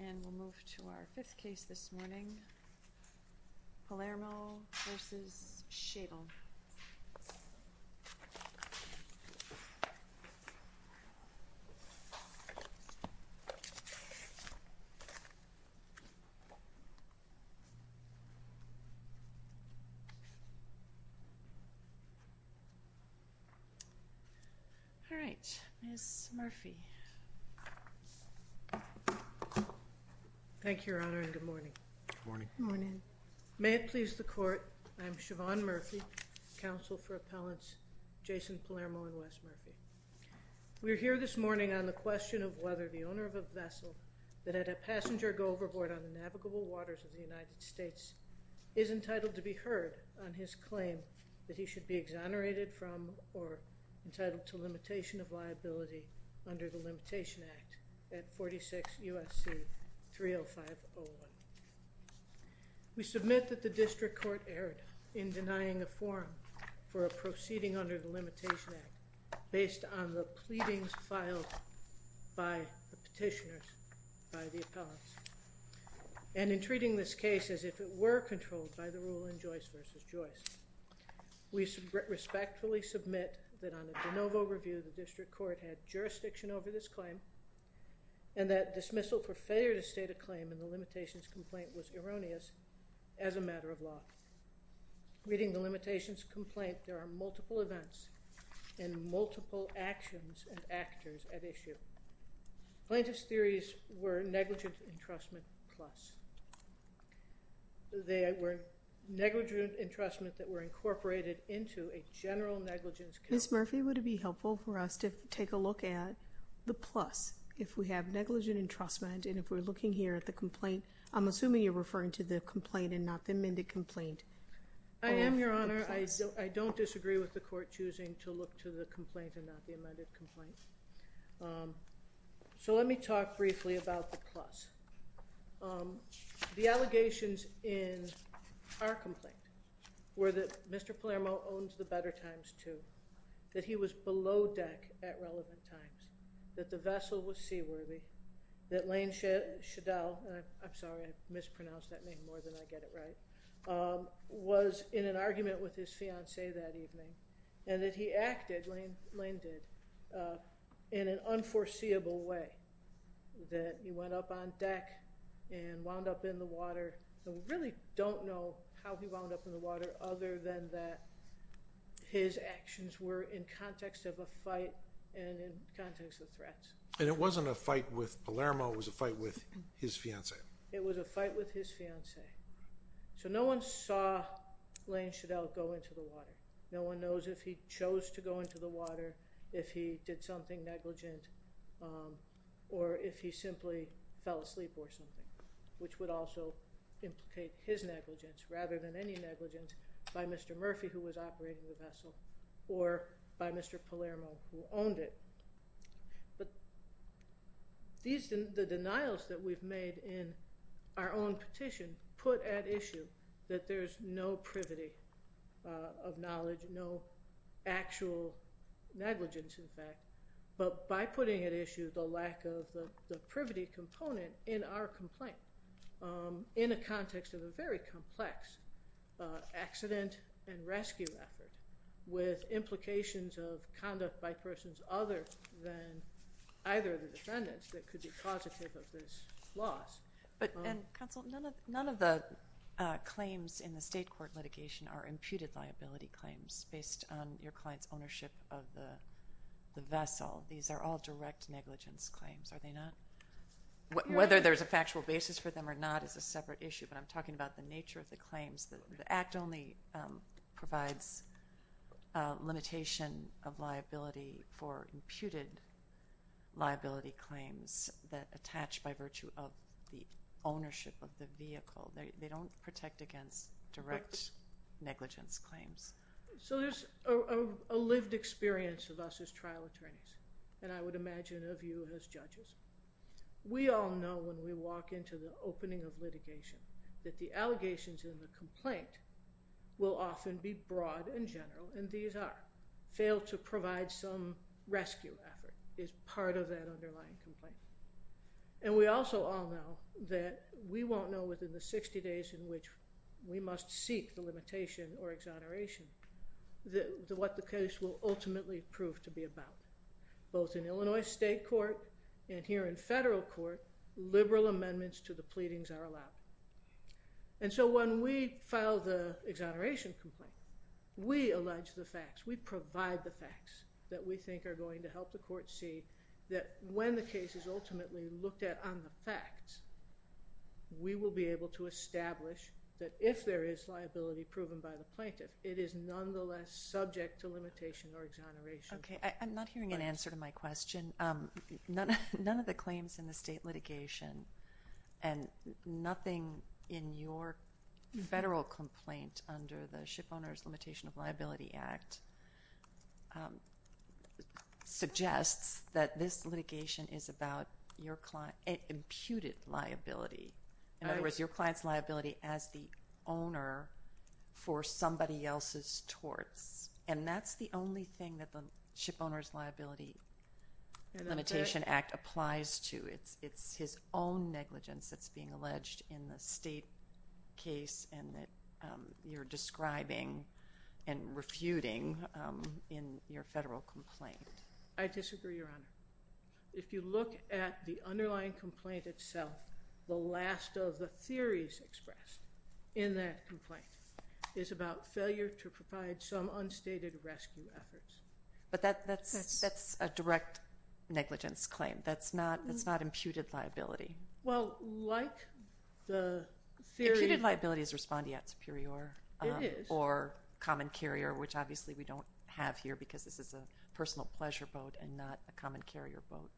And we'll move to our fifth case this morning, Palermo v. Schaedel. Alright, Ms. Murphy. Thank you, Your Honor, and good morning. Good morning. May it please the Court, I am Siobhan Murphy, Counsel for Appellants Jason Palermo and Wes Murphy. We are here this morning on the question of whether the owner of a vessel that had a passenger go overboard on the navigable waters of the United States is entitled to be heard on his claim that he should be exonerated from or entitled to limitation of liability under the Limitation Act at 46 U.S.C. 30501. We submit that the District Court erred in denying a forum for a proceeding under the Limitation Act based on the pleadings filed by the petitioners by the appellants. And in treating this case as if it were controlled by the rule in Joyce v. Joyce, we respectfully submit that on a de novo review the District Court had jurisdiction over this claim and that dismissal for failure to state a claim in the limitations complaint was erroneous as a matter of law. Reading the limitations complaint, there are multiple events and multiple actions and actors at issue. Plaintiff's theories were negligent entrustment plus. They were negligent entrustment that were incorporated into a general negligence case. Ms. Murphy, would it be helpful for us to take a look at the plus? If we have negligent entrustment and if we're looking here at the complaint, I'm assuming you're referring to the complaint and not the amended complaint. I am, Your Honor. I don't disagree with the court choosing to look to the complaint and not the amended complaint. So let me talk briefly about the plus. The allegations in our complaint were that Mr. Palermo owns the Better Times 2, that he was below deck at relevant times, that the vessel was seaworthy, that Lane Shadel, I'm sorry, I mispronounced that name more than I get it right, was in an argument with his fiancee that evening and that he acted, Lane did, in an unforeseeable way, that he went up on deck and wound up in the water. So we really don't know how he wound up in the water other than that his actions were in context of a fight and in context of threats. And it wasn't a fight with Palermo, it was a fight with his fiancee. It was a fight with his fiancee. So no one saw Lane Shadel go into the water. No one knows if he chose to go into the water, if he did something negligent, or if he simply fell asleep or something, which would also implicate his negligence rather than any negligence by Mr. Murphy, who was operating the vessel, or by Mr. Palermo, who owned it. But the denials that we've made in our own petition put at issue that there's no privity of knowledge, no actual negligence, in fact, but by putting at issue the lack of the privity component in our complaint in a context of a very complex accident and rescue effort with implications of conduct by persons other than either of the defendants that could be causative of this loss. But, Counsel, none of the claims in the state court litigation are imputed liability claims based on your client's ownership of the vessel. These are all direct negligence claims, are they not? Whether there's a factual basis for them or not is a separate issue, but I'm talking about the nature of the claims. The Act only provides a limitation of liability for imputed liability claims that attach by virtue of the ownership of the vehicle. They don't protect against direct negligence claims. So there's a lived experience of us as trial attorneys, and I would imagine of you as judges. We all know when we walk into the opening of litigation that the allegations in the complaint will often be broad and general, and these are. Fail to provide some rescue effort is part of that underlying complaint. And we also all know that we won't know within the 60 days in which we must seek the limitation or exoneration what the case will ultimately prove to be about. Both in Illinois state court and here in federal court, liberal amendments to the pleadings are allowed. And so when we file the exoneration complaint, we allege the facts. We provide the facts that we think are going to help the court see that when the case is ultimately looked at on the facts, we will be able to establish that if there is liability proven by the plaintiff, it is nonetheless subject to limitation or exoneration. Okay. I'm not hearing an answer to my question. None of the claims in the state litigation and nothing in your federal complaint under the Shipowners Limitation of Liability Act suggests that this litigation is about your client's imputed liability. In other words, your client's liability as the owner for somebody else's torts. And that's the only thing that the Shipowners Liability Limitation Act applies to. It's his own negligence that's being alleged in the state case and that you're describing and refuting in your federal complaint. I disagree, Your Honor. If you look at the underlying complaint itself, the last of the theories expressed in that complaint is about failure to provide some unstated rescue efforts. But that's a direct negligence claim. That's not imputed liability. Well, like the theory... Imputed liability is respondeat superior. It is. Or common carrier, which obviously we don't have here because this is a personal pleasure boat and not a common carrier boat.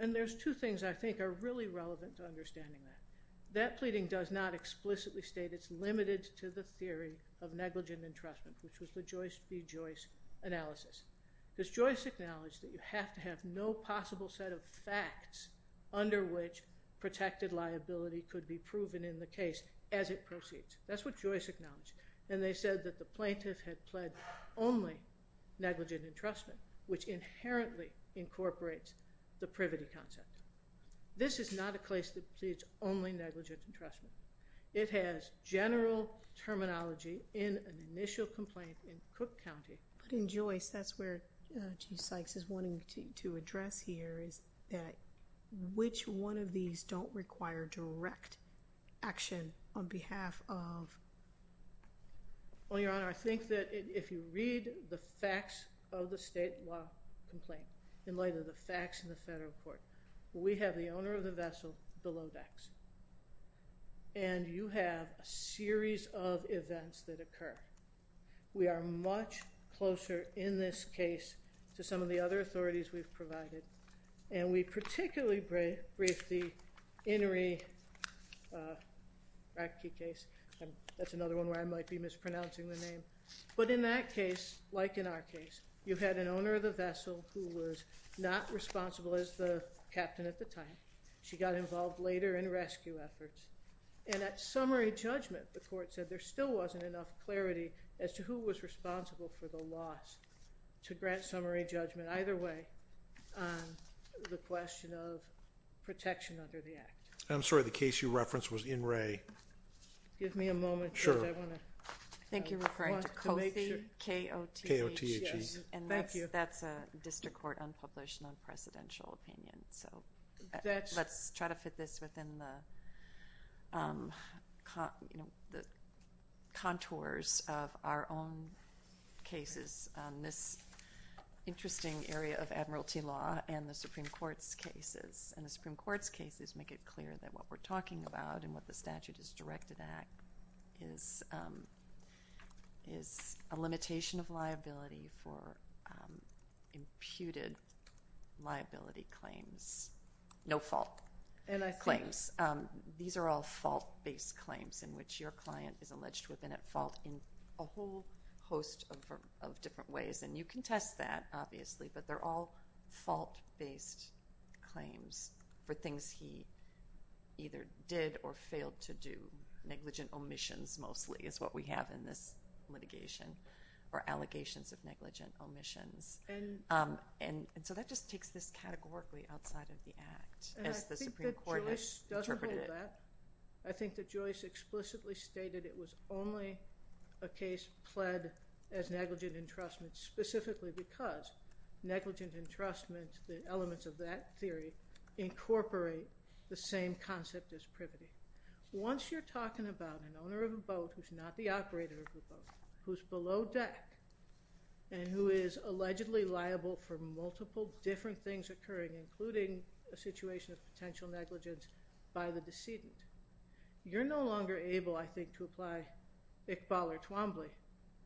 And there's two things I think are really relevant to understanding that. That pleading does not explicitly state it's limited to the theory of negligent entrustment, which was the Joyce v. Joyce analysis. Because Joyce acknowledged that you have to have no possible set of facts under which protected liability could be proven in the case as it proceeds. That's what Joyce acknowledged. And they said that the plaintiff had pled only negligent entrustment, which inherently incorporates the privity concept. This is not a case that pleads only negligent entrustment. It has general terminology in an initial complaint in Cook County. But in Joyce, that's where Chief Sykes is wanting to address here, is that which one of these don't require direct action on behalf of... Well, Your Honor, I think that if you read the facts of the state law complaint in light of the facts in the federal court, we have the owner of the vessel below decks. And you have a series of events that occur. We are much closer in this case to some of the other authorities we've provided. And we particularly briefed the Inouye-Ratke case. That's another one where I might be mispronouncing the name. But in that case, like in our case, you had an owner of the vessel who was not responsible as the captain at the time. She got involved later in rescue efforts. And at summary judgment, the court said, there still wasn't enough clarity as to who was responsible for the loss to grant summary judgment either way on the question of protection under the act. I'm sorry. The case you referenced was Inouye. Give me a moment. Sure. I want to make sure. I think you're referring to COPHE, K-O-T-H-E. Thank you. And that's a district court unpublished non-presidential opinion. So let's try to fit this within the contours of our own cases. This interesting area of admiralty law and the Supreme Court's cases. And the Supreme Court's cases make it clear that what we're talking about and what the statute is directed at is a limitation of liability for imputed liability claims. No fault claims. These are all fault-based claims in which your client is alleged to have been at fault in a whole host of different ways. And you can test that, obviously, but they're all fault-based claims for things he either did or failed to do. Negligent omissions mostly is what we have in this litigation or allegations of negligent omissions. And so that just takes this categorically outside of the act as the Supreme Court has interpreted it. And I think that Joyce doesn't hold that. I think that Joyce explicitly stated it was only a case pled as negligent entrustment specifically because negligent entrustment, the elements of that theory, incorporate the same concept as privity. Once you're talking about an owner of a boat who's not the operator of a boat, who's below deck, and who is allegedly liable for multiple different things occurring, including a situation of potential negligence by the decedent, you're no longer able, I think, to apply Iqbal or Twombly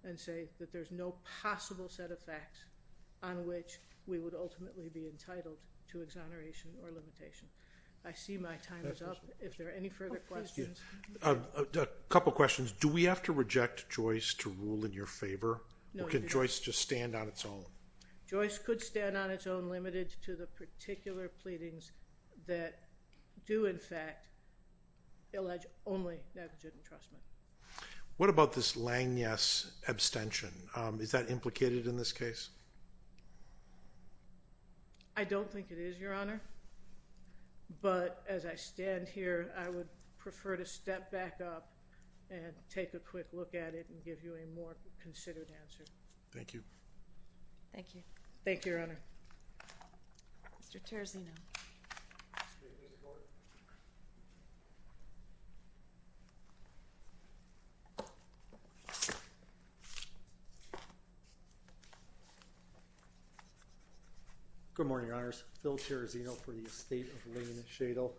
and say that there's no possible set of facts on which we would ultimately be entitled to exoneration or limitation. I see my time is up. If there are any further questions. A couple questions. Do we have to reject Joyce to rule in your favor? Or can Joyce just stand on its own? Joyce could stand on its own, limited to the particular pleadings that do, in fact, allege only negligent entrustment. What about this Langness abstention? Is that implicated in this case? I don't think it is, Your Honor. But as I stand here, I would prefer to step back up and take a quick look at it and give you a more considered answer. Thank you. Thank you. Thank you, Your Honor. Mr. Terzino. Good morning, Your Honors. Phil Terzino for the Estate of Lane Shadle.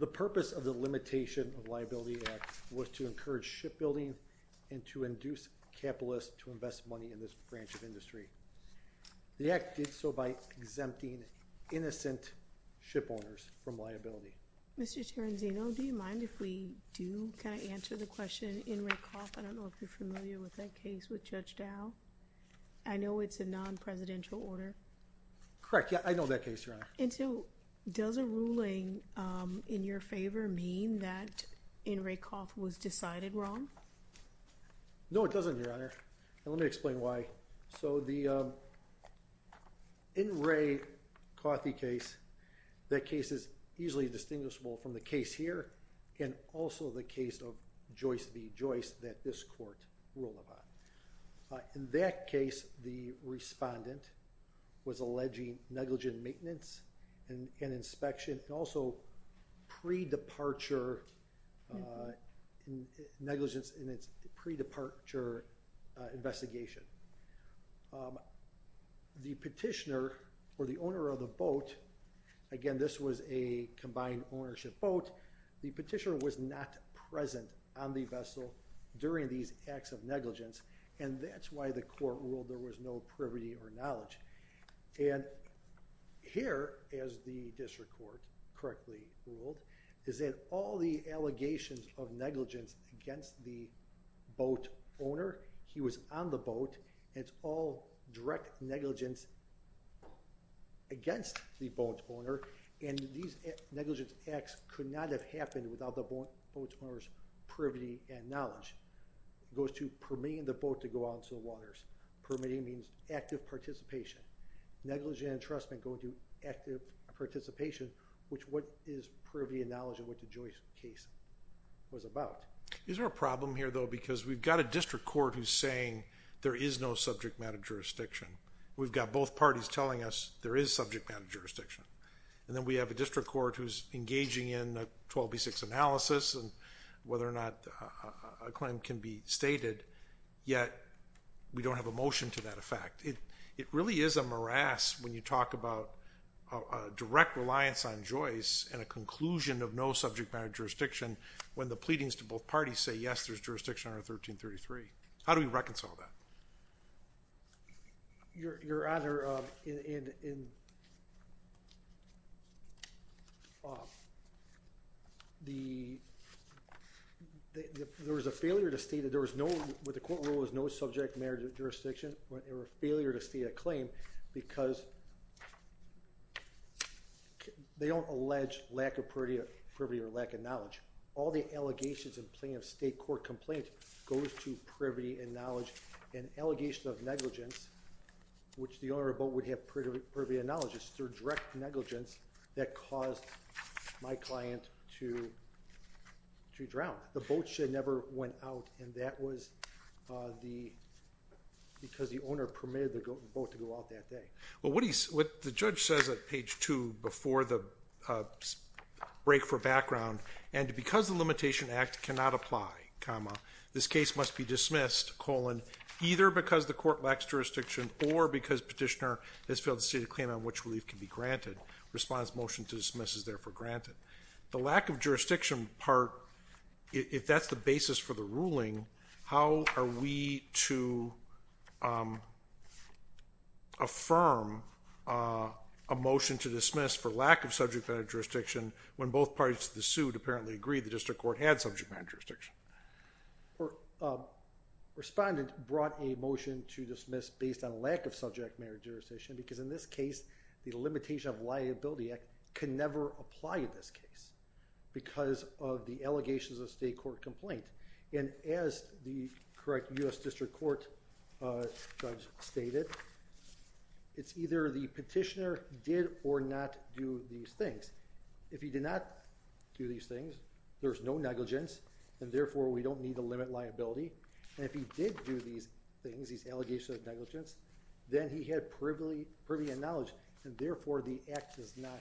The purpose of the Limitation of Liability Act was to encourage shipbuilding and to induce capitalists to invest money in this branch of industry. The Act did so by exempting innocent shipowners from liability. Mr. Terzino, do you mind if we do kind of answer the question in Rickhoff? I don't know if you're familiar with that case with Judge Dow. I know it's a non-presidential order. Correct. Yeah, I know that case, Your Honor. And so does a ruling in your favor mean that in Rickhoff was decided wrong? No, it doesn't, Your Honor. And let me explain why. So the in Ray Coffee case, that case is easily distinguishable from the case here and also the case of Joyce v. Joyce that this court ruled about. In that case, the respondent was alleging negligent maintenance and inspection and also pre-departure negligence in its pre-departure investigation. The petitioner, or the owner of the boat, again, this was a combined ownership boat, the petitioner was not present on the vessel during these acts of negligence and that's why the court ruled there was no privity or knowledge. And here, as the district court correctly ruled, is that all the allegations of negligence against the boat owner, he was on the boat, it's all direct negligence against the boat owner and these negligence acts could not have happened without the boat owner's privity and knowledge. It goes to permitting the boat to go out into the waters. Permitting means active participation. Negligent entrustment going to active participation, which what is privity and knowledge of what the Joyce case was about. Is there a problem here, though, because we've got a district court who's saying there is no subject matter jurisdiction. We've got both parties telling us there is subject matter jurisdiction. And then we have a district court who's engaging in a 12B6 analysis and whether or not a claim can be stated, yet we don't have a motion to that effect. It really is a morass when you talk about direct reliance on Joyce and a conclusion of no subject matter jurisdiction when the pleadings to both parties say, yes, there's jurisdiction under 1333. How do we reconcile that? Your Honor, there was a failure to state that there was no subject matter jurisdiction or a failure to state a claim because they don't allege lack of privity or lack of knowledge. All the allegations in plain of state court complaint goes to privity and knowledge. An allegation of negligence, which the owner of the boat would have privity and knowledge, is through direct negligence that caused my client to drown. The boat never went out, and that was because the owner permitted the boat to go out that day. Well, what the judge says at page two before the break for background and because the limitation act cannot apply, this case must be dismissed, either because the court lacks jurisdiction or because petitioner has failed to state a claim on which relief can be granted. Respondent's motion to dismiss is therefore granted. The lack of jurisdiction part, if that's the basis for the ruling, how are we to affirm a motion to dismiss for lack of subject matter jurisdiction when both parties to the suit apparently agreed the district court had subject matter jurisdiction? Respondent brought a motion to dismiss based on lack of subject matter jurisdiction because in this case the limitation of liability act can never apply in this case because of the allegations of state court complaint. And as the correct U.S. District Court judge stated, it's either the petitioner did or not do these things. If he did not do these things, there's no negligence and therefore we don't need to limit liability. And if he did do these things, these allegations of negligence, then he had privy knowledge and therefore the act does not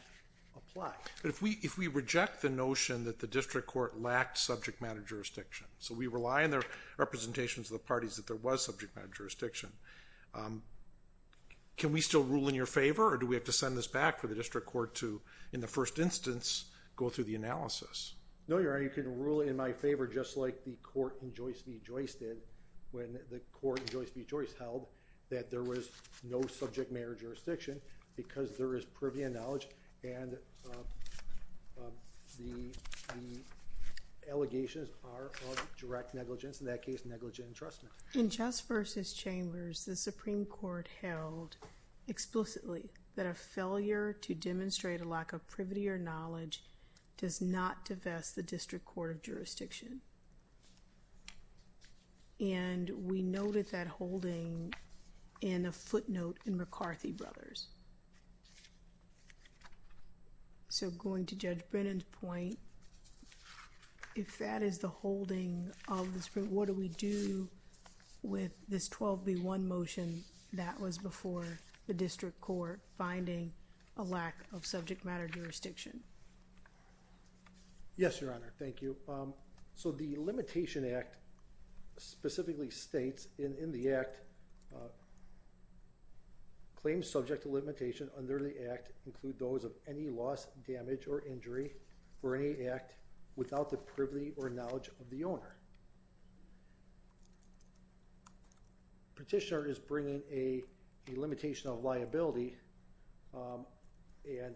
apply. But if we reject the notion that the district court lacked subject matter jurisdiction, so we rely on the representations of the parties that there was subject matter jurisdiction, can we still rule in your favor or do we have to send this back for the district court to, in the first instance, go through the analysis? No, Your Honor, you can rule in my favor just like the court in Joyce v. Joyce did when the court in Joyce v. Joyce held that there was no subject matter jurisdiction because there is privy knowledge and the allegations are of direct negligence, in that case negligent entrustment. In Jess v. Chambers, the Supreme Court held explicitly that a failure to demonstrate a lack of privity or knowledge does not divest the district court of jurisdiction. And we noted that holding in a footnote in McCarthy Brothers. So going to Judge Brennan's point, if that is the holding of the Supreme Court, what do we do with this 12B1 motion when that was before the district court finding a lack of subject matter jurisdiction? Yes, Your Honor, thank you. So the Limitation Act specifically states in the Act, claims subject to limitation under the Act include those of any loss, damage, or injury for any Act without the privy or knowledge of the owner. Petitioner is bringing a limitation of liability and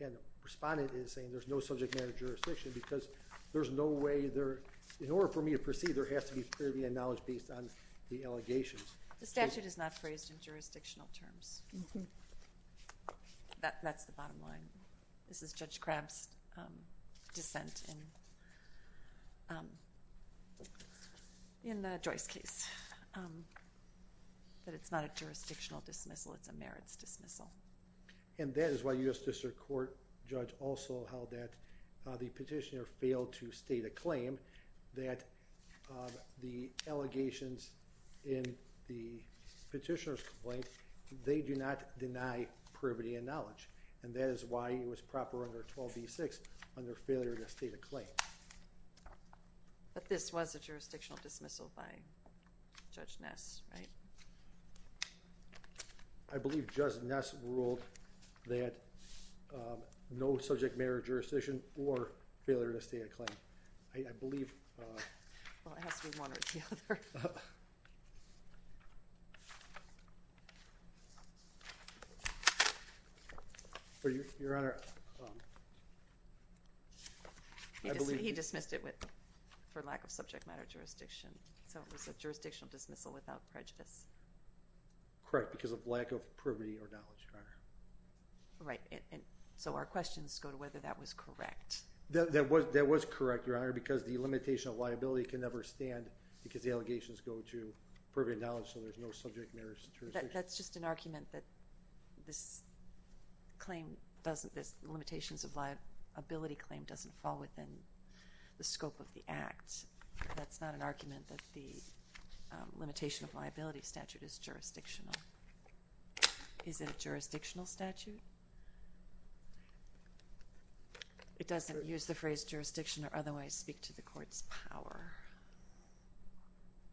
the respondent is saying there's no subject matter jurisdiction because there's no way there, in order for me to proceed, there has to be privy knowledge based on the allegations. The statute is not phrased in jurisdictional terms. That's the bottom line. This is Judge Crabb's dissent in the Joyce case. That it's not a jurisdictional dismissal, it's a merits dismissal. And that is why U.S. District Court Judge also held that the petitioner failed to state a claim that the allegations in the petitioner's complaint, they do not deny privity and knowledge. And that is why it was proper under 12b-6 under failure to state a claim. But this was a jurisdictional dismissal by Judge Ness, right? I believe Judge Ness ruled that no subject matter jurisdiction or failure to state a claim. Well, it has to be one or the other. He dismissed it for lack of subject matter jurisdiction. So it was a jurisdictional dismissal without prejudice. Correct, because of lack of privity or knowledge, Your Honor. Right, and so our questions go to whether that was correct. That was correct, Your Honor, because the limitation of liability can never stand because the allegations go to privity and knowledge, so there's no subject matter jurisdiction. That's just an argument that this claim doesn't, this limitations of liability claim doesn't fall within the scope of the act. That's not an argument that the limitation of liability statute is jurisdictional. Is it a jurisdictional statute? It doesn't use the phrase jurisdiction or otherwise speak to the court's power.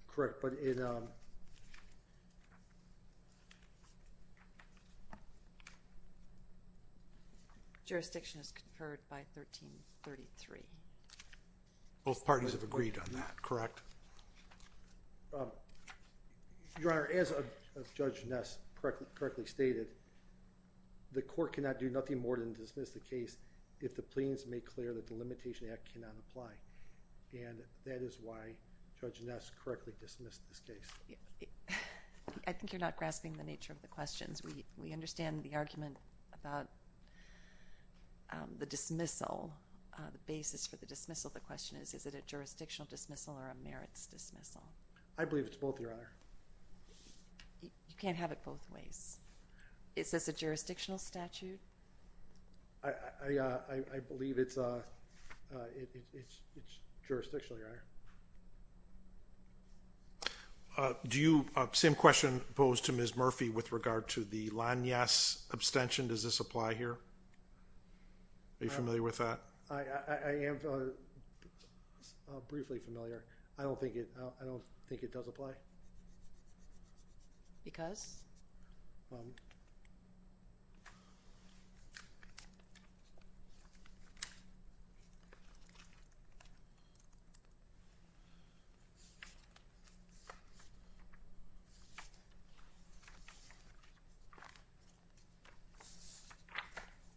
Correct, but it... Jurisdiction is conferred by 1333. Both parties have agreed on that, correct? Your Honor, as Judge Ness correctly stated, the court cannot do nothing more than dismiss the case if the plaintiffs make clear that the limitation act cannot apply, and that is why Judge Ness correctly dismissed this case. I think you're not grasping the nature of the questions. We understand the argument about the dismissal, the basis for the dismissal of the question is, is it a jurisdictional dismissal or a merits dismissal? I believe it's both, Your Honor. You can't have it both ways. Is this a jurisdictional statute? I believe it's jurisdictional, Your Honor. Do you... Same question posed to Ms. Murphy with regard to the Lanyas abstention, does this apply here? Are you familiar with that? I am briefly familiar. I don't think it does apply. Because?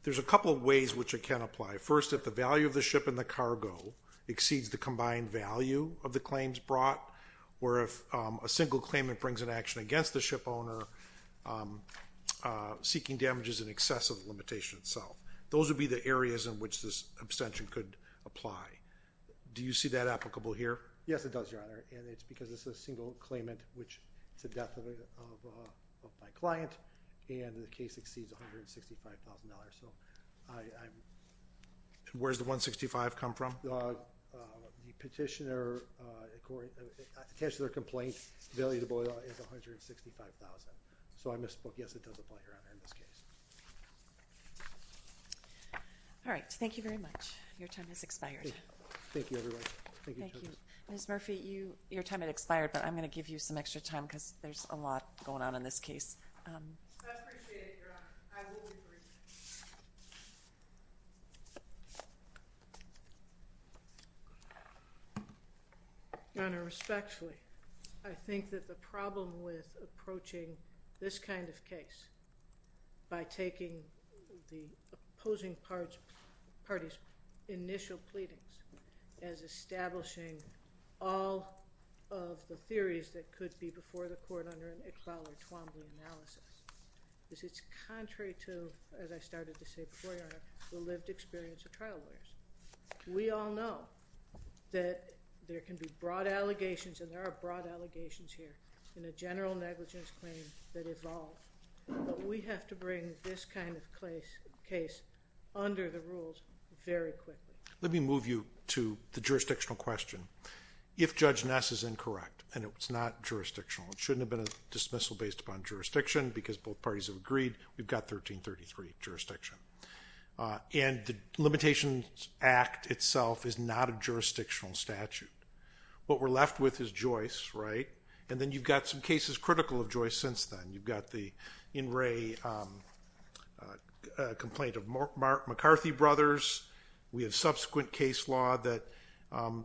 There's a couple of ways which it can apply. First, if the value of the ship and the cargo exceeds the combined value of the claims brought, or if a single claimant brings an action against the ship owner seeking damages in excess of the limitation itself. Those would be the areas in which this abstention could apply. Do you see that applicable here? Yes, it does, Your Honor. And it's because it's a single claimant, which it's the death of my client, and the case exceeds $165,000. Where does the $165,000 come from? The petitioner's complaint, the value of the boiler is $165,000. So I misspoke. Yes, it does apply, Your Honor, in this case. All right. Thank you very much. Your time has expired. Thank you, everybody. Thank you. Ms. Murphy, your time has expired, but I'm going to give you some extra time because there's a lot going on in this case. I appreciate it, Your Honor. I will be brief. Your Honor, respectfully, I think that the problem with approaching this kind of case by taking the opposing party's initial pleadings as establishing all of the theories that could be before the court under an Iqbal or Twombly analysis is it's contrary to, as I started to say before, Your Honor, the lived experience of trial lawyers. We all know that there can be broad allegations, and there are broad allegations here, in a general negligence claim that evolve, but we have to bring this kind of case under the rules very quickly. Let me move you to the jurisdictional question. If Judge Ness is incorrect and it's not jurisdictional, it shouldn't have been a dismissal based upon jurisdiction because both parties have agreed we've got 1333 jurisdiction. And the Limitations Act itself is not a jurisdictional statute. What we're left with is Joyce, right? And then you've got some cases critical of Joyce since then. You've got the in-ray complaint of McCarthy brothers. We have subsequent case law that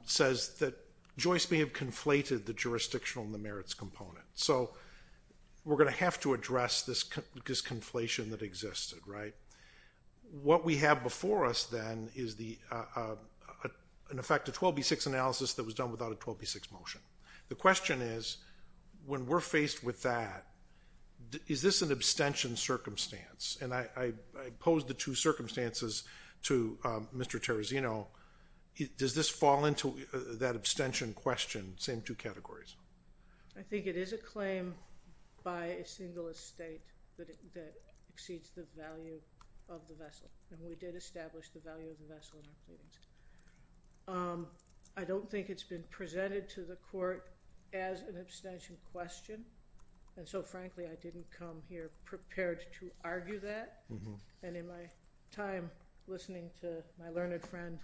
says that Joyce may have conflated the jurisdictional and the merits component. So we're going to have to address this conflation that existed, right? What we have before us then is an effective 12B6 analysis that was done without a 12B6 motion. The question is, when we're faced with that, is this an abstention circumstance? And I pose the two circumstances to Mr. Terrazino. Does this fall into that abstention question, same two categories? I think it is a claim by a single estate that exceeds the value of the vessel. And we did establish the value of the vessel in our pleadings. I don't think it's been presented to the court as an abstention question. And so, frankly, I didn't come here prepared to argue that. And in my time listening to my learned friend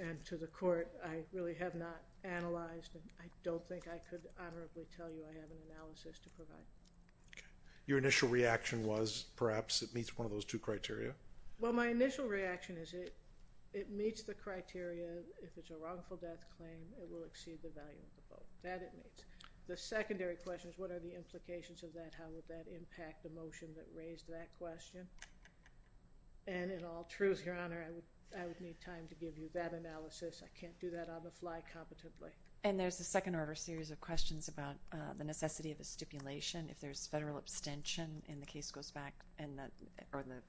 and to the court, I really have not analyzed and I don't think I could honorably tell you I have an analysis to provide. Your initial reaction was perhaps it meets one of those two criteria? Well, my initial reaction is it meets the criteria. If it's a wrongful death claim, it will exceed the value of the boat. That it meets. The secondary question is what are the implications of that? How would that impact the motion that raised that question? And in all truth, Your Honor, I would need time to give you that analysis. I can't do that on the fly competently. And there's a second order series of questions about the necessity of a stipulation. If there's federal abstention and the case goes back or the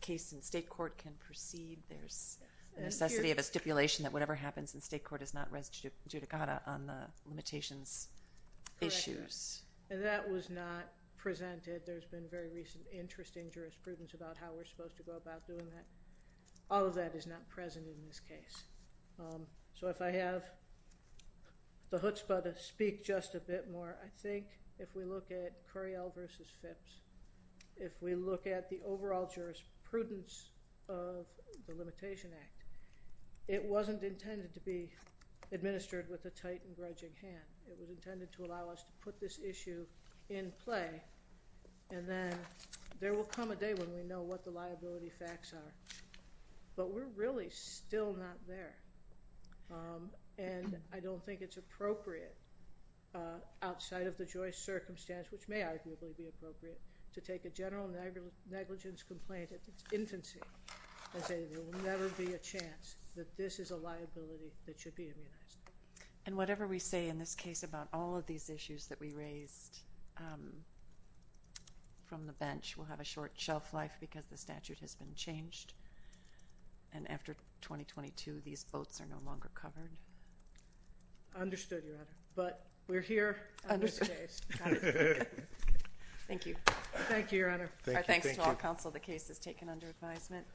case in state court can proceed, there's a necessity of a stipulation that whatever happens in state court is not res judicata on the limitations issues. Correct. And that was not presented. There's been very recent interest in jurisprudence about how we're supposed to go about doing that. All of that is not present in this case. So if I have the chutzpah to speak just a bit more, I think if we look at Curiel v. Phipps, if we look at the overall jurisprudence of the Limitation Act, it wasn't intended to be administered with a tight and grudging hand. It was intended to allow us to put this issue in play and then there will come a day when we know what the liability facts are. But we're really still not there. And I don't think it's appropriate outside of the Joyce circumstance, which may arguably be appropriate, to take a general negligence complaint at its infancy and say there will never be a chance that this is a liability that should be immunized. And whatever we say in this case about all of these issues that we raised from the bench will have a short shelf life because the statute has been changed. And after 2022, these boats are no longer covered. Understood, Your Honor. But we're here on this case. Got it. Thank you. Thank you, Your Honor. Our thanks to all counsel. The case is taken under advisement.